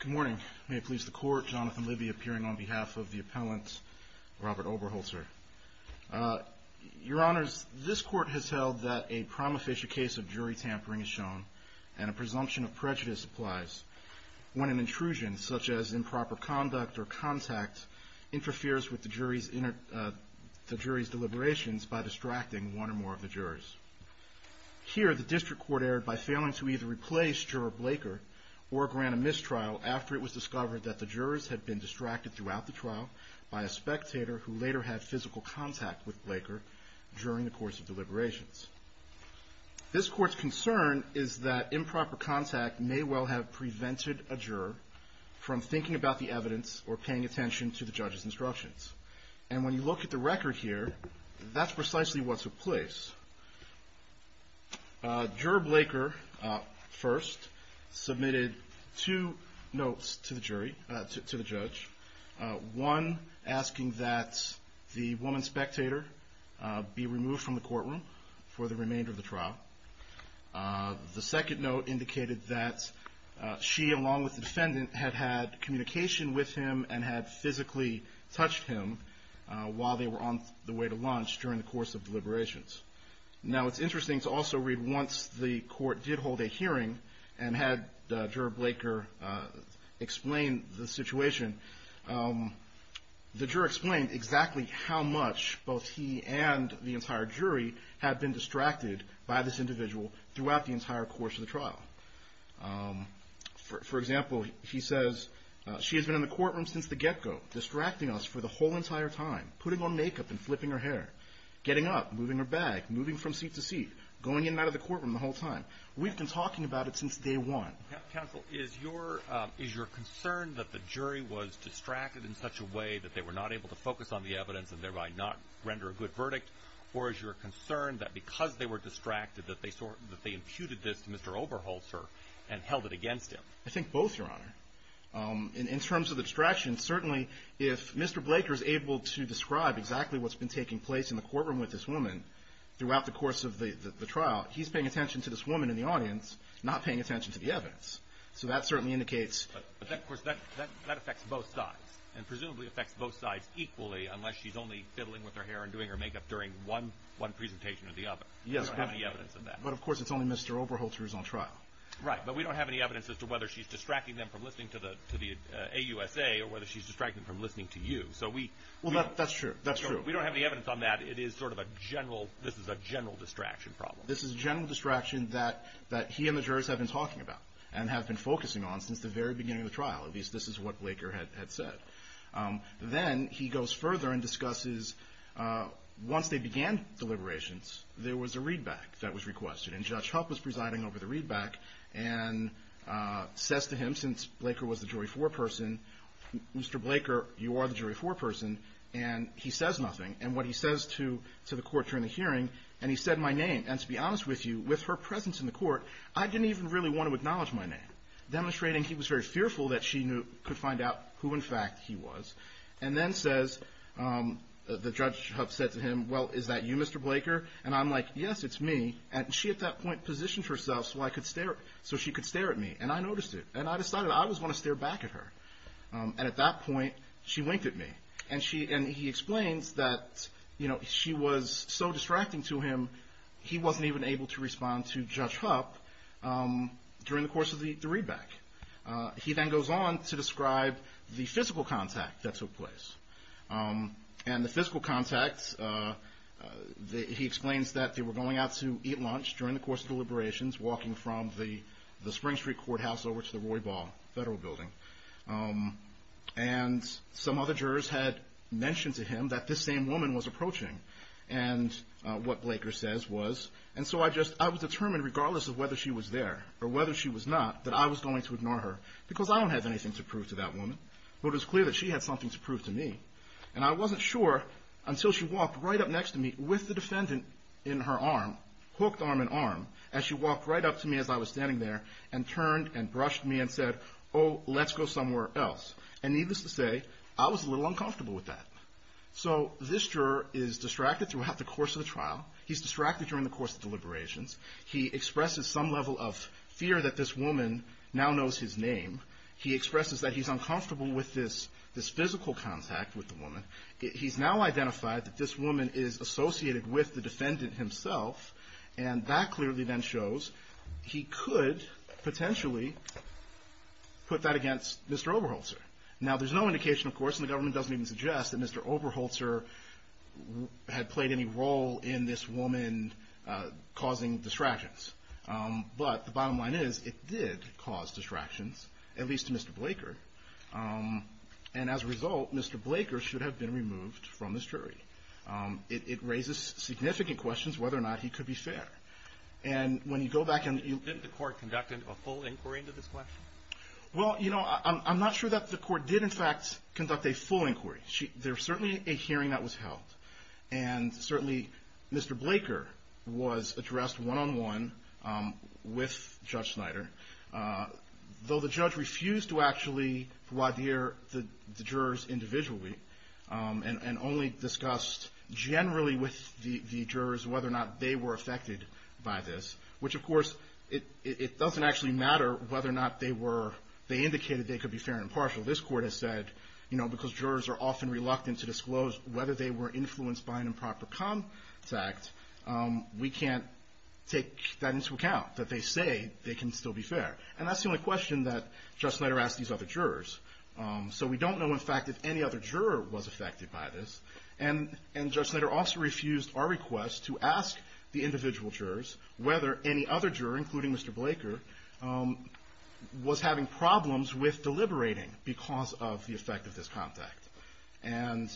Good morning. May it please the Court, Jonathan Libby appearing on behalf of the Appellant Robert Oberholtzer. Your Honours, this Court has held that a prima facie case of jury tampering is shown and a presumption of prejudice applies when an intrusion, such as improper conduct or contact, interferes with the jury's deliberations by distracting one or more of the jurors. Here, the District Court erred by failing to either replace Juror Blaker or grant a mistrial after it was discovered that the jurors had been distracted throughout the trial by a spectator who later had physical contact with Blaker during the course of deliberations. This Court's concern is that improper contact may well have prevented a juror from thinking about the evidence or paying attention to the judge's instructions. And when you look at the record here, that's precisely what took place. Juror Blaker, first, submitted two notes to the judge. One asking that the woman spectator be removed from the courtroom for the remainder of the trial. The second note indicated that she, along with the defendant, had had communication with him and had physically touched him while they were on the way to lunch during the course of deliberations. Now, it's interesting to also read, once the Court did hold a hearing and had Juror Blaker explain the situation, the juror explained exactly how much both he and the entire jury had been distracted by this individual throughout the entire course of the trial. For example, he says, she has been in the courtroom since the get-go, distracting us for the whole entire time, putting on makeup and flipping her hair, getting up, moving her bag, moving from seat to seat, going in and out of the courtroom the whole time. We've been talking about it since day one. Counsel, is your concern that the jury was distracted in such a way that they were not able to focus on the evidence and thereby not render a good verdict? Or is your concern that because they were distracted that they imputed this to Mr. Oberholzer and held it against him? I think both, Your Honor. In terms of the distraction, certainly if Mr. Blaker is able to describe exactly what's been taking place in the courtroom with this woman throughout the course of the trial, he's paying attention to this woman in the audience, not paying attention to the evidence. So that certainly indicates But, of course, that affects both sides, and presumably affects both sides equally unless she's only fiddling with her hair and doing her makeup during one presentation or the other. We don't have any evidence of that. But, of course, it's only Mr. Oberholzer who's on trial. Right, but we don't have any evidence as to whether she's distracting them from listening to the AUSA or whether she's distracting them from listening to you. Well, that's true. That's true. We don't have any evidence on that. It is sort of a general, this is a general distraction problem. This is a general distraction that he and the jurors have been talking about and have been focusing on since the very beginning of the trial. At least, this is what Blaker had said. Then he goes further and discusses, once they began deliberations, there was a read-back that was requested. And Judge Huff was presiding over the read-back and says to him, since Blaker was the jury foreperson, Mr. Blaker, you are the jury foreperson, and he says nothing. And what he says to the court during the hearing, and he said my name. And, to be honest with you, with her presence in the court, I didn't even really want to know who, in fact, he was. And then says, the Judge Huff said to him, well, is that you, Mr. Blaker? And I'm like, yes, it's me. And she, at that point, positioned herself so I could stare, so she could stare at me. And I noticed it. And I decided I always want to stare back at her. And at that point, she winked at me. And he explains that she was so distracting to him, he wasn't even able to respond to Judge Huff during the course of the read-back. He then goes on to describe the physical contact that took place. And the physical contact, he explains that they were going out to eat lunch during the course of the liberations, walking from the Spring Street Courthouse over to the Roy Ball Federal Building. And some other jurors had mentioned to him that this same woman was approaching. And what Blaker says was, and so I just, I was determined, regardless of whether she was there or whether she was not, that I was going to ignore her because I don't have anything to prove to that woman. But it was clear that she had something to prove to me. And I wasn't sure until she walked right up next to me with the defendant in her arm, hooked arm in arm, as she walked right up to me as I was standing there and turned and brushed me and said, oh, let's go somewhere else. And needless to say, I was a little uncomfortable with that. So this juror is distracted throughout the course of the trial. He's distracted during the course of the liberations. He expresses some level of fear that this woman now knows his name. He expresses that he's uncomfortable with this physical contact with the woman. He's now identified that this woman is associated with the defendant himself. And that clearly then shows he could potentially put that against Mr. Oberholzer. Now, there's no indication, of course, and the government doesn't even suggest, that Mr. Oberholzer had played any part in this woman causing distractions. But the bottom line is, it did cause distractions, at least to Mr. Blaker. And as a result, Mr. Blaker should have been removed from this jury. It raises significant questions whether or not he could be fair. And when you go back and you... Didn't the court conduct a full inquiry into this question? Well, you know, I'm not sure that the court did, in fact, conduct a full inquiry. There was certainly a hearing that was held. And certainly, Mr. Blaker was addressed one-on-one with Judge Snyder. Though the judge refused to actually voir dire the jurors individually, and only discussed generally with the jurors whether or not they were affected by this. Which of course, it doesn't actually matter whether or not they indicated they could be fair and impartial. This court has said, you know, because jurors are often reluctant to disclose whether they were influenced by an improper contact, we can't take that into account, that they say they can still be fair. And that's the only question that Judge Snyder asked these other jurors. So we don't know, in fact, if any other juror was affected by this. And Judge Snyder also refused our request to ask the individual jurors whether any other jurors were affected by this contact. And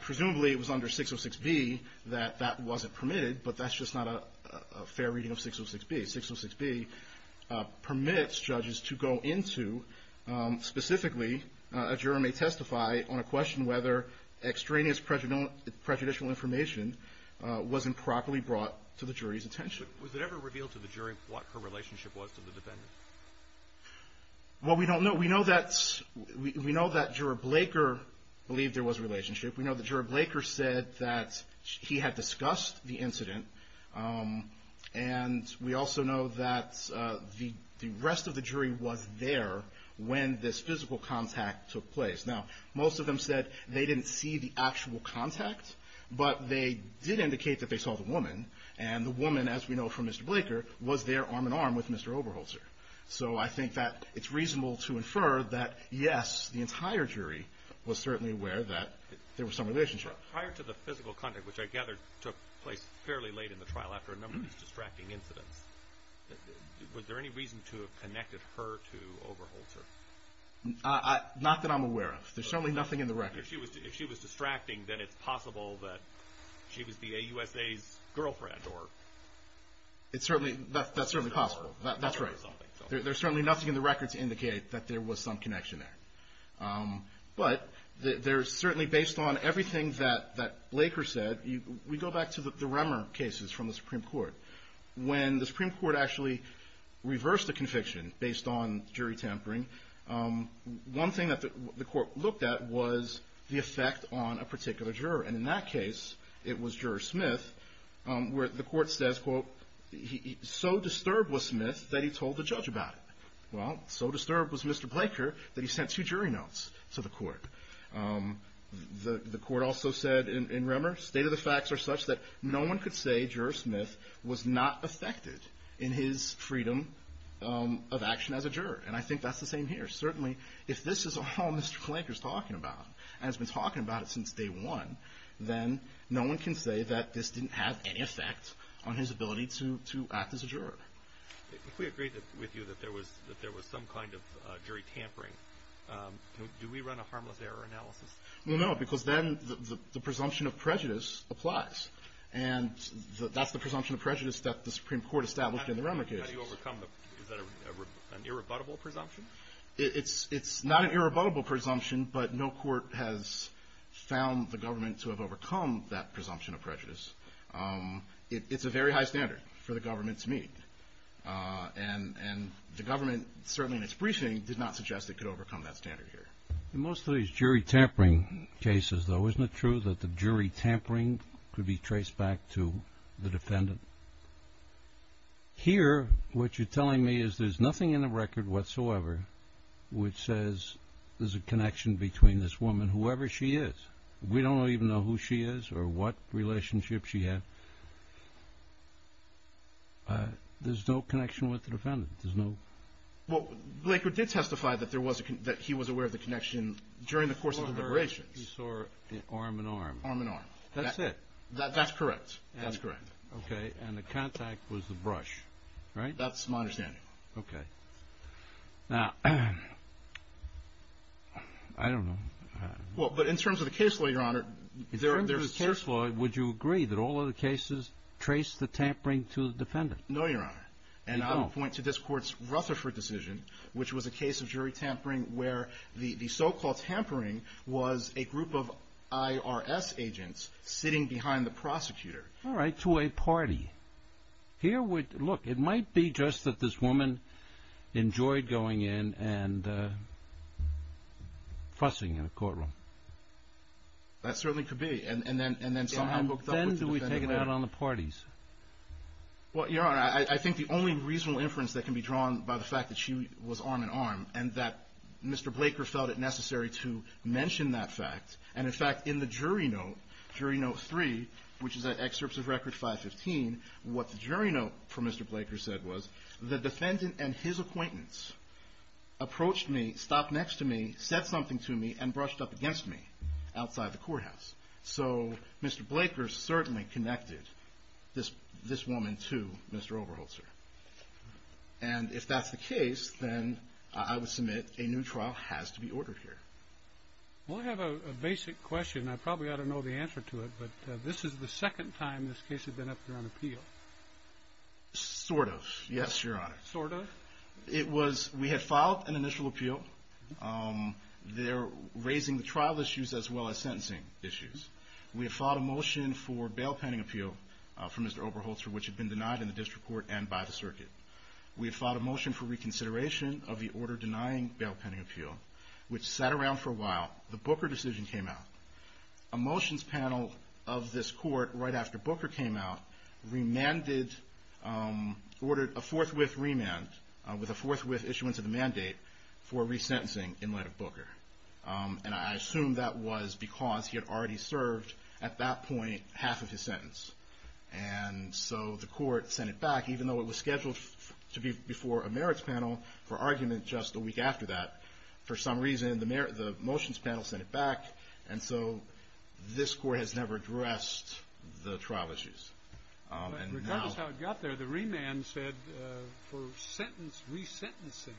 presumably, it was under 606B that that wasn't permitted, but that's just not a fair reading of 606B. 606B permits judges to go into, specifically, a juror may testify on a question whether extraneous prejudicial information was improperly brought to the jury's attention. Was it ever revealed to the jury what her relationship was to the defendant? Well, we don't know. We know that juror Blaker believed there was a relationship. We know that juror Blaker said that he had discussed the incident. And we also know that the rest of the jury was there when this physical contact took place. Now, most of them said they didn't see the actual contact, but they did indicate that they saw the woman. And the woman, as we know from Mr. Blaker, was there arm-in-arm with Mr. Oberholzer. So I think that it's reasonable to infer that, yes, the entire jury was certainly aware that there was some relationship. Prior to the physical contact, which I gather took place fairly late in the trial after a number of distracting incidents, was there any reason to have connected her to Oberholzer? Not that I'm aware of. There's certainly nothing in the record. If she was distracting, then it's possible that she was the AUSA's girlfriend, or... That's certainly possible. That's right. There's certainly nothing in the record to indicate that there was some connection there. But there's certainly, based on everything that Blaker said, we go back to the Remmer cases from the Supreme Court. When the Supreme Court actually reversed a conviction based on jury tampering, one thing that the court looked at was the effect on a particular juror. And in that case, it was Juror Smith, where the court says, quote, so disturbed was Smith that he told the judge about it. Well, so disturbed was Mr. Blaker that he sent two jury notes to the court. The court also said in Remmer, state of the facts are such that no one could say Juror Smith was not affected in his freedom of action as a juror. And I think that's the same here. Certainly, if this is all Mr. Blaker's talking about, and has been talking about it since day one, then no one can say that this didn't have any effect on his ability to act as a juror. If we agree with you that there was some kind of jury tampering, do we run a harmless error analysis? Well, no, because then the presumption of prejudice applies. And that's the presumption of prejudice that the Supreme Court established in the Remmer case. How do you overcome the... Is that an irrebuttable presumption? It's not an irrebuttable presumption, but no court has found the government to have overcome that presumption of prejudice. It's a very high standard for the government to meet. And the government, certainly in its briefing, did not suggest it could overcome that standard here. Most of these jury tampering cases, though, isn't it true that the jury tampering could be traced back to the defendant? Here, what you're telling me is there's nothing in the letter which says there's a connection between this woman, whoever she is. We don't even know who she is or what relationship she had. There's no connection with the defendant. There's no... Well, Blakert did testify that he was aware of the connection during the course of deliberations. He saw arm and arm. Arm and arm. That's it. That's correct. That's correct. Okay. And the contact was the brush, right? That's my understanding. Okay. Now, I don't know... Well, but in terms of the case law, Your Honor, there's... In terms of the case law, would you agree that all other cases trace the tampering to the defendant? No, Your Honor. And I would point to this court's Rutherford decision, which was a case of jury tampering where the so-called tampering was a group of IRS agents sitting behind the prosecutor. All right. To a party. Here, look, it might be just that this woman enjoyed going in and fussing in a courtroom. That certainly could be. And then somehow hooked up with the defendant... Then do we take it out on the parties? Well, Your Honor, I think the only reasonable inference that can be drawn by the fact that she was arm and arm and that Mr. Blakert felt it necessary to mention that fact. And in fact, in the jury note, jury note three, which is at excerpts of record 515, what the jury note for Mr. Blakert said was, the defendant and his acquaintance approached me, stopped next to me, said something to me, and brushed up against me outside the courthouse. So Mr. Blakert certainly connected this woman to Mr. Oberholzer. And if that's the case, then I would submit a new trial has to be ordered here. Well, I have a basic question. I probably ought to know the answer to it, but this is the second time this case has been up there on appeal. Sort of. Yes, Your Honor. Sort of? It was, we had filed an initial appeal. They're raising the trial issues as well as sentencing issues. We had filed a motion for bail pending appeal for Mr. Oberholzer, which had been denied in the district court and by the circuit. We had filed a motion for reconsideration of the order denying bail pending appeal, which sat around for a while. The Booker decision came out. A motions panel of this court, right after Booker came out, remanded, ordered a forthwith remand with a forthwith issuance of the mandate for resentencing in light of Booker. And I assume that was because he had already served at that point half of his sentence. And so the court sent it back, even though it was scheduled to be before a merits panel for argument just a week after that. For some reason, the motions panel sent it back. And so this court has never addressed the trial issues. Regardless of how it got there, the remand said for sentence resentencing.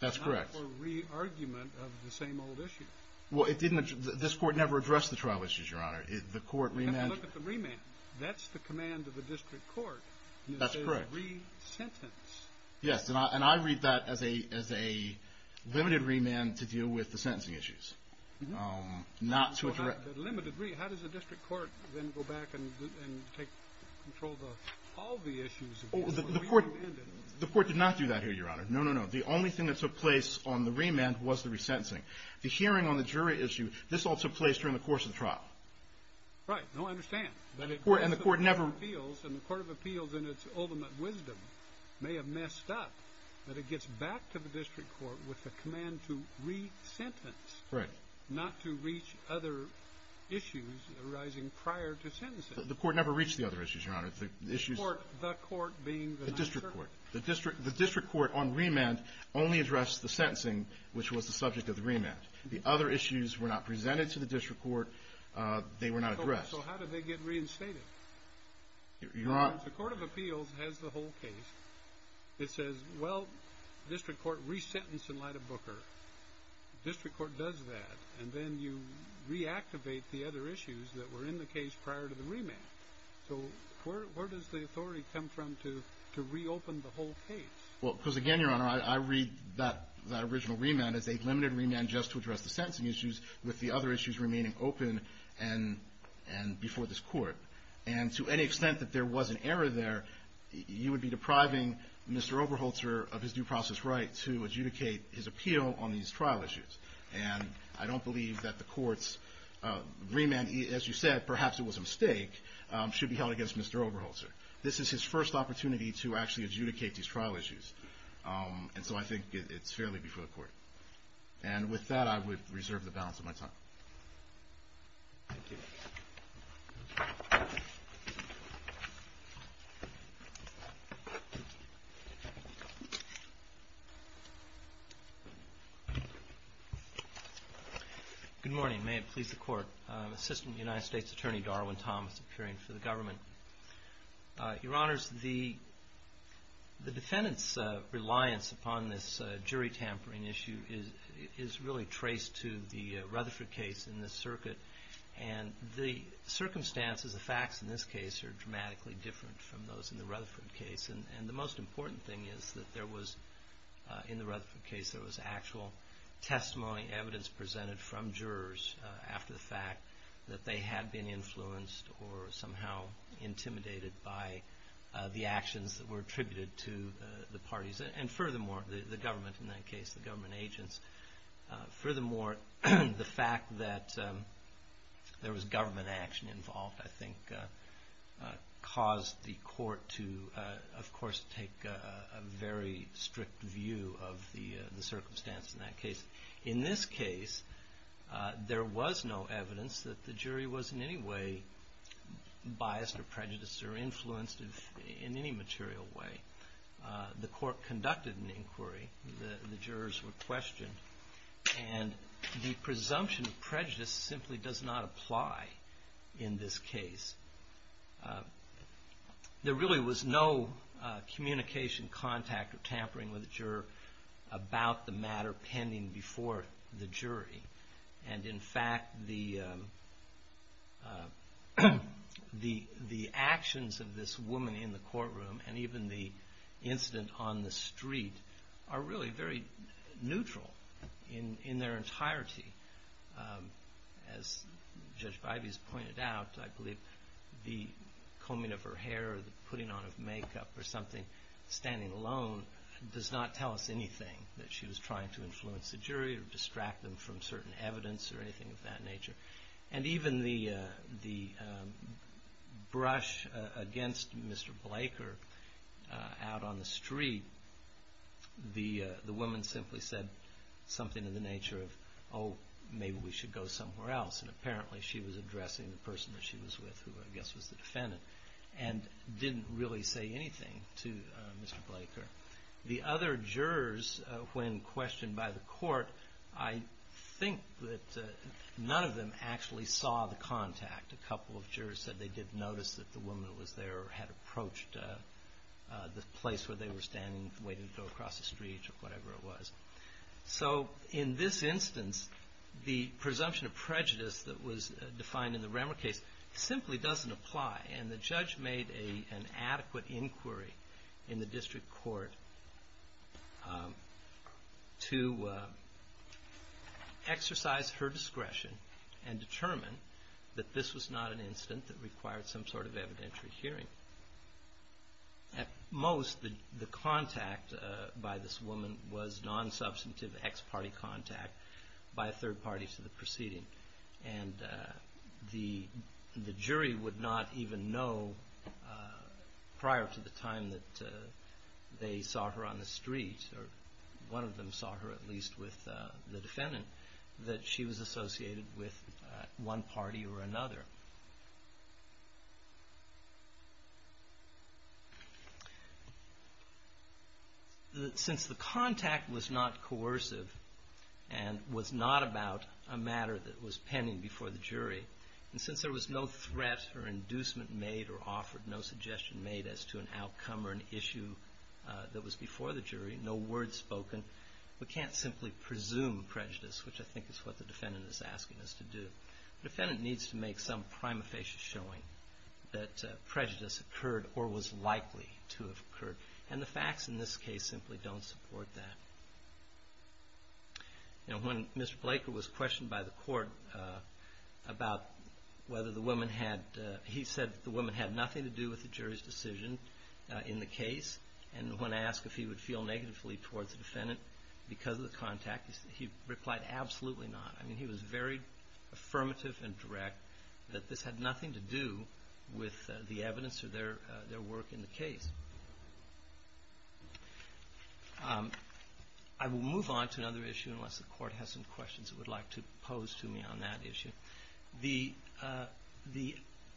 That's correct. Not for re-argument of the same old issue. Well, it didn't, this court never addressed the trial issues, Your Honor. The court remanded. You have to look at the remand. That's the command of the district court. That's correct. It says re-sentence. Yes. And I read that as a limited remand to deal with the sentencing issues. No. Not to address. Limited remand. How does the district court then go back and take control of all the issues? The court did not do that here, Your Honor. No, no, no. The only thing that took place on the remand was the resentencing. The hearing on the jury issue, this all took place during the course of the trial. Right. No, I understand. And the court never. And the Court of Appeals, in its ultimate wisdom, may have messed up that it gets back to the district court with the command to re-sentence. Right. Not to reach other issues arising prior to sentencing. The court never reached the other issues, Your Honor. The issues. The court being the district court. The district court on remand only addressed the sentencing, which was the subject of the remand. The other issues were not presented to the district court. They were not addressed. So how did they get reinstated? Your Honor. The Court of Appeals has the whole case. It says, well, district court re-sentenced in light of Booker. District court does that. And then you reactivate the other issues that were in the case prior to the remand. So where does the authority come from to re-open the whole case? Well, because again, Your Honor, I read that original remand as a limited remand just to before this court. And to any extent that there was an error there, you would be depriving Mr. Oberholzer of his due process right to adjudicate his appeal on these trial issues. And I don't believe that the court's remand, as you said, perhaps it was a mistake, should be held against Mr. Oberholzer. This is his first opportunity to actually adjudicate these trial issues. And so I think it's fairly before the court. And with that, I would reserve the balance of my time. Thank you. Good morning. May it please the Court. Assistant United States Attorney Darwin Thomas appearing for the government. Your Honors, the defendant's reliance upon this jury tampering issue is really traced to the Rutherford case in this circuit. And the circumstances, the facts in this case are dramatically different from those in the Rutherford case. And the most important thing is that there was, in the Rutherford case, there was actual testimony, evidence presented from jurors after the fact that they had been influenced or somehow intimidated by the actions that were attributed to the parties. And furthermore, the government in that case, the government agents. Furthermore, the fact that there was government action involved, I think, caused the court to, of course, take a very strict view of the circumstance in that case. In this case, there was no evidence that the jury was in any way biased or prejudiced or influenced in any material way. The court conducted an inquiry. The jurors were questioned. And the presumption of prejudice simply does not apply in this case. There really was no communication, contact, or tampering with the juror about the matter pending before the jury. And in fact, the actions of this woman in the courtroom and even the incident on the street are really very neutral in their entirety. As Judge Bivey has pointed out, I believe the combing of her hair or the putting on of makeup or something, standing alone, does not tell us anything that she was trying to influence the jury or distract them from certain evidence or anything of that nature. And even the brush against Mr. Blaker out on the street, the woman simply said something in the nature of, oh, maybe we should go somewhere else. And apparently, she was addressing the person that she was with, who I guess was the defendant, and didn't really say anything to Mr. Blaker. The other jurors, when questioned by the court, I think that none of them actually saw the contact. A couple of jurors said they did notice that the woman was there or had approached the place where they were standing waiting to go across the street or whatever it was. So in this instance, the presumption of prejudice that was defined in the Remmer case simply doesn't apply. And the judge made an adequate inquiry in the district court to exercise her discretion and determine that this was not an incident that required some sort of evidentiary hearing. At most, the jury would not even know prior to the time that they saw her on the street, or one of them saw her at least with the defendant, that she was associated with one party or another. Since the contact was not coercive and was not about a matter that was pending before the jury, and since there was no threat or inducement made or offered, no suggestion made as to an outcome or an issue that was before the jury, no word spoken, we can't simply presume prejudice, which I think is what the defendant is asking us to do. The defendant needs to make some prima facie showing that prejudice occurred or was likely to have occurred. And the facts in this case simply don't support that. When Mr. Blaker was questioned by the court about whether the woman had, he said the woman had nothing to do with the jury's decision in the case, and when asked if he would feel negatively towards the defendant because of the contact, he replied, absolutely not. I mean, he was very affirmative and direct that this had nothing to do with the evidence or their work in the case. I will move on to another issue unless the court has some questions it would like to pose to me on that issue. The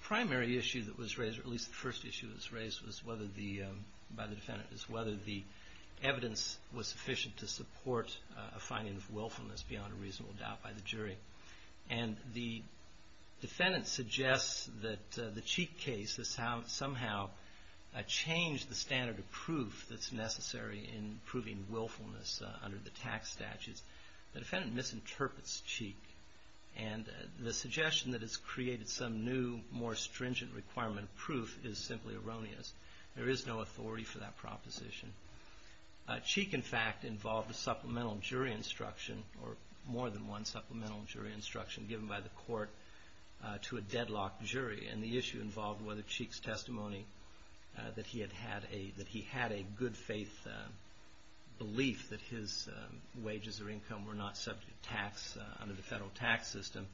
primary issue that was raised, or at least the first issue that was raised by the defendant, is whether the evidence was sufficient to support a finding of willfulness beyond a reasonable doubt by the jury. And the defendant suggests that the Cheek case has somehow changed the standard of proof that's necessary in proving willfulness under the tax statutes. The defendant misinterprets Cheek, and the suggestion that it's Cheek, in fact, involved a supplemental jury instruction, or more than one supplemental jury instruction given by the court to a deadlocked jury. And the issue involved whether Cheek's testimony that he had a good faith belief that his wages or income were not subject to tax under the federal tax system,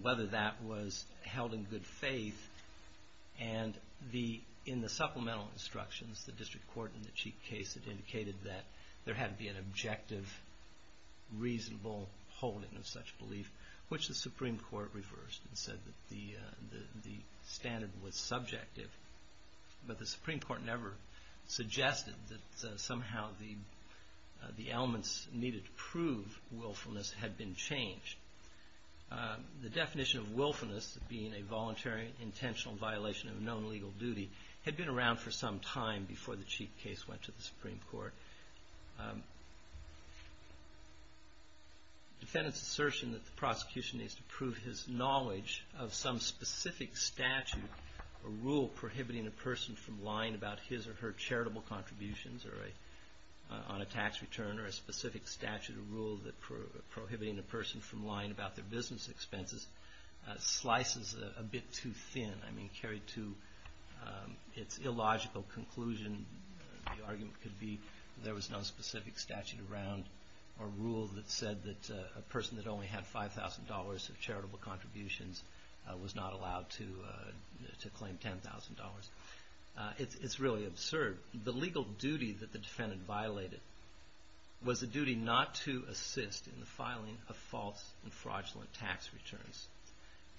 whether that was held in good faith. And in the supplemental instructions, the district court in the Cheek case had indicated that there had to be an objective, reasonable holding of such belief, which the Supreme Court reversed and said that the standard was subjective. But the Supreme Court never suggested that somehow the elements needed to prove willfulness had been changed. The definition of willfulness being a voluntary, intentional violation of a known legal duty had been around for some time before the Cheek case went to the Supreme Court. Defendant's assertion that the prosecution needs to prove his knowledge of some specific statute or rule prohibiting a person from lying about his or her charitable contributions on a tax return, or a specific statute or rule prohibiting a person from lying about their business expenses, slices a bit too thin. I mean, carried to its illogical conclusion, the argument could be there was no specific statute around or rule that said that a person that only had $5,000 of charitable contributions was not allowed to claim $10,000. It's really absurd. The legal duty that the defendant violated was the duty not to assist in the filing of false and fraudulent tax returns.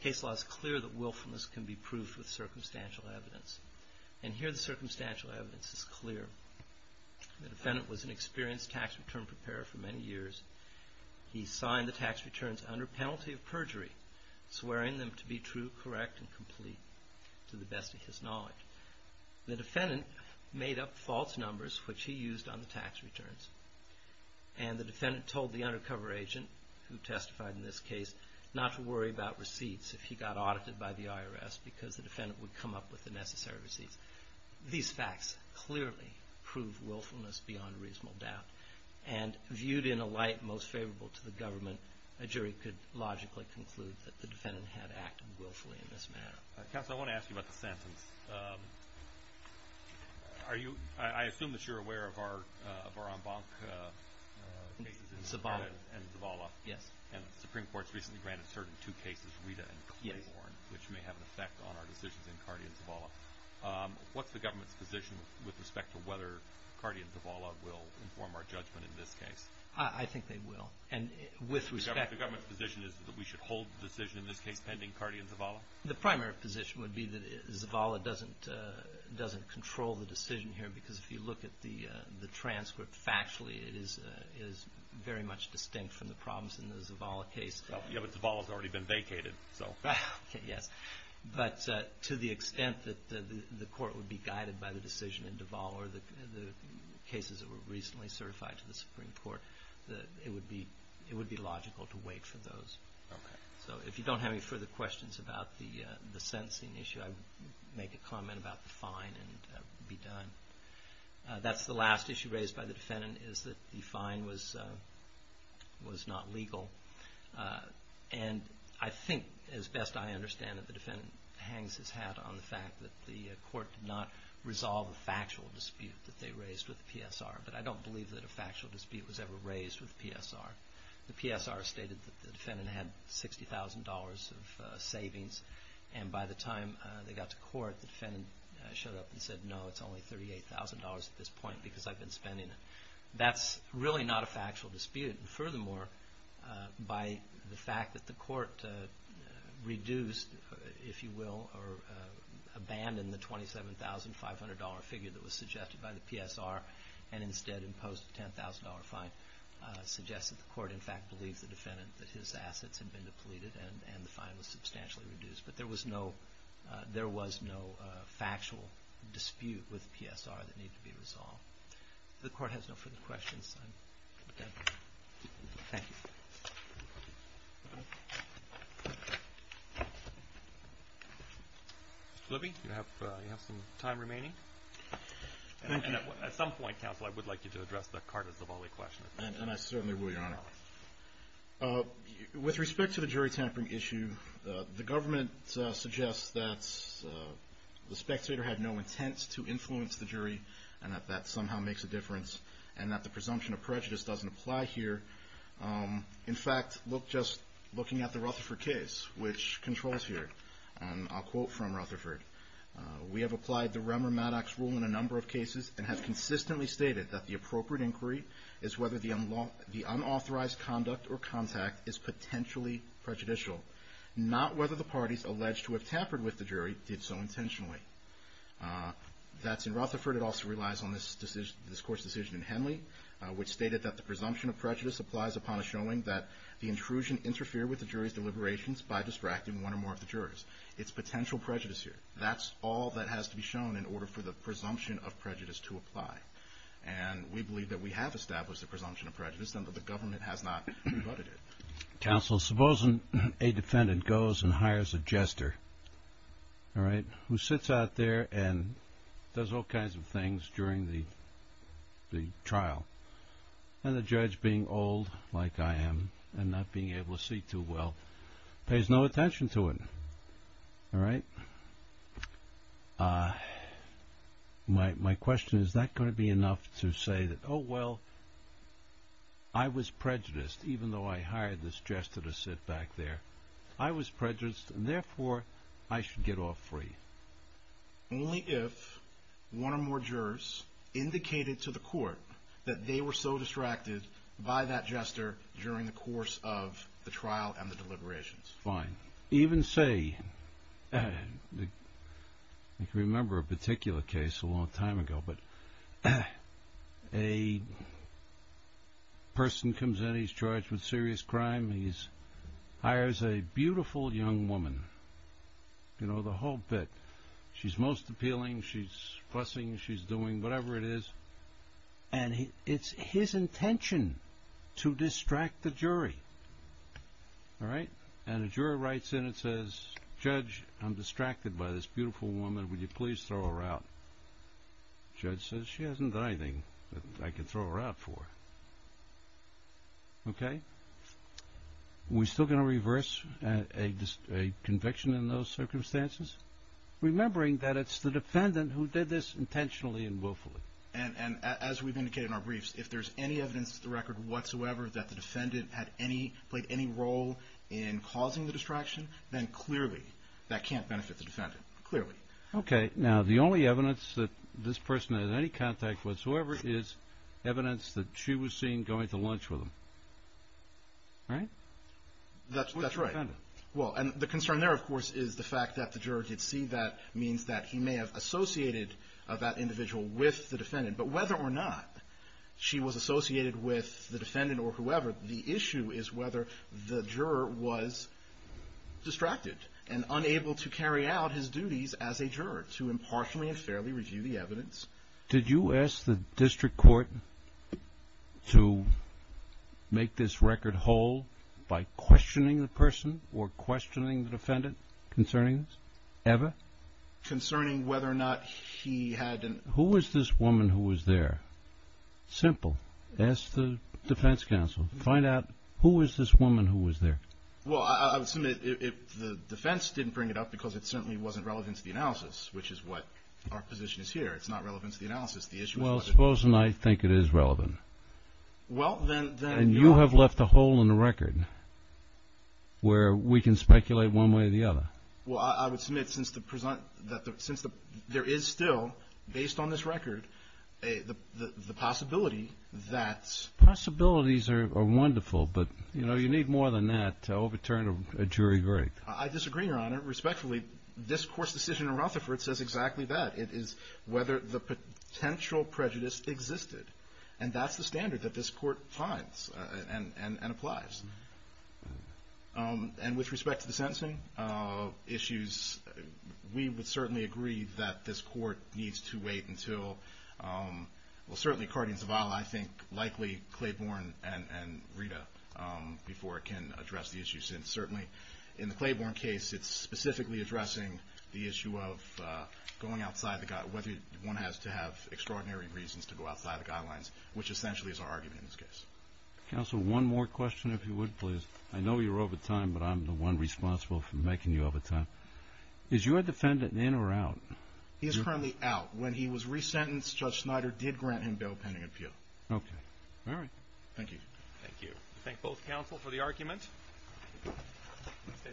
Case law is clear that willfulness can be proved with circumstantial evidence, and here the circumstantial evidence is clear. The defendant was an experienced tax return preparer for many years. He signed the tax returns under penalty of perjury, swearing them to be true, correct, and complete to the best of his knowledge. The defendant made up false numbers, which he used on the tax returns, and the defense argued in this case not to worry about receipts if he got audited by the IRS because the defendant would come up with the necessary receipts. These facts clearly prove willfulness beyond reasonable doubt, and viewed in a light most favorable to the government, a jury could logically conclude that the defendant had acted willfully in this manner. Counsel, I want to ask you about the sentence. I assume that you're aware of our en banc cases in Cardi and Zavala? Yes. And the Supreme Court's recently granted certain two cases, Rita and Claiborne, which may have an effect on our decisions in Cardi and Zavala. What's the government's position with respect to whether Cardi and Zavala will inform our judgment in this case? I think they will. The government's position is that we should hold the decision in this case pending Cardi and Zavala? The primary position would be that Zavala doesn't control the decision here, because if you look at the transcript factually, it is very much distinct from the problems in the Zavala case. Yeah, but Zavala's already been vacated. Yes. But to the extent that the court would be guided by the decision in Zavala or the cases that were recently certified to the Supreme Court, it would be logical to wait for those. So if you don't have any further questions about the sentencing issue, I would make a comment about the fine and be done. That's the last issue raised by the defendant, is that the fine was not legal. And I think, as best I understand it, the defendant hangs his hat on the fact that the court did not resolve a factual dispute that they raised with the PSR. But I don't believe that a factual dispute was ever raised with the PSR. The PSR stated that the defendant had $60,000 of savings, and by the time they got to court, the defendant showed up and said, no, it's only $38,000 at this point because I've been spending it. That's really not a factual dispute. And furthermore, by the fact that the court reduced, if you will, or abandoned the $27,500 figure that was suggested by the PSR and instead imposed a $10,000 fine, suggests that the court, in fact, believes the defendant that his assets had been depleted and the fine was substantially reduced. But there was no factual dispute with PSR that needed to be resolved. If the court has no further questions, I'm done. Thank you. Mr. Libby, you have some time remaining. At some point, counsel, I would like you to address the Carter-Zavolli question. And I certainly will, Your Honor. With respect to the jury tampering issue, the government suggests that the spectator had no intent to influence the jury and that that somehow makes a difference and that the presumption of prejudice doesn't apply here. In fact, just looking at the Rutherford case, which controls here, I'll quote from Rutherford. We have applied the Remmer-Maddox rule in a number of cases and have consistently stated that the appropriate inquiry is whether the unauthorized conduct or contact is potentially prejudicial, not whether the parties alleged to have tampered with the jury did so intentionally. That's in Rutherford. It also relies on this court's decision in Henley, which stated that the presumption of prejudice applies upon a showing that the intrusion interfered with the jury's deliberations by distracting one or more of the jurors. It's potential prejudice here. That's all that has to be shown in order for the presumption of prejudice to apply. And we believe that we have established the presumption of prejudice and that the government has not rebutted it. Counsel, supposing a defendant goes and hires a jester who sits out there and does all kinds of things during the trial and the judge, being old like I am and not being able to see too well, pays no attention to it. All right. My question is, is that going to be enough to say that, oh, well, I was prejudiced even though I hired this jester to sit back there. I was prejudiced and therefore I should get off free. Only if one or more jurors indicated to the court that they were so distracted by that jester during the course of the trial and the deliberations. Fine. Even say, I can remember a particular case a long time ago, but a person comes in, he's charged with serious crime, he hires a beautiful young woman. You know, the whole bit. She's most appealing. She's fussing. She's doing whatever it is. And it's his intention to distract the jury. All right. And a juror writes in and says, judge, I'm distracted by this beautiful woman. Would you please throw her out? Judge says, she hasn't done anything that I can throw her out for. Okay. We still going to reverse a conviction in those circumstances? Remembering that it's the defendant who did this intentionally and willfully. And as we've indicated in our briefs, if there's any evidence to the record whatsoever that the defendant played any role in causing the distraction, then clearly that can't benefit the defendant. Clearly. Okay. Now, the only evidence that this person had any contact whatsoever is evidence that she was seen going to lunch with him. Right? That's right. Well, and the concern there, of course, is the fact that the juror did see that means that he may have associated that individual with the defendant. But whether or not she was associated with the defendant or whoever, the issue is whether the juror was distracted and unable to carry out his duties as a juror to impartially and fairly review the evidence. Did you ask the district court to make this record whole by questioning the person or questioning the defendant concerning this? Ever? Concerning whether or not he had an... Who was this woman who was there? Simple. Ask the defense counsel. Find out who was this woman who was there? Well, I would submit the defense didn't bring it up because it certainly wasn't relevant to the analysis, which is what our position is here. It's not relevant to the analysis. The issue is whether... Well, suppose and I think it is relevant. Well, then... And you have left a hole in the record where we can speculate one way or the other. Well, I would submit since there is still, based on this record, the possibility that... Possibilities are wonderful, but you need more than that to overturn a jury verdict. I disagree, Your Honor. Respectfully, this court's decision in Rutherford says exactly that. It is whether the potential prejudice existed. And that's the standard that this court finds and applies. And with respect to the sentencing issues, we would certainly agree that this court needs to wait until... Well, certainly according to Zavala, I think likely Claiborne and Rita before it can address the issue. And certainly in the Claiborne case, it's specifically addressing the issue of going outside the... Whether one has to have extraordinary reasons to go outside the guidelines, which essentially is our argument in this case. Counsel, one more question, if you would, please. I know you're over time, but I'm the one responsible for making you over time. Is your defendant in or out? He is currently out. When he was resentenced, Judge Snyder did grant him bail pending appeal. Okay. All right. Thank you. Thank you. Thank both counsel for the argument.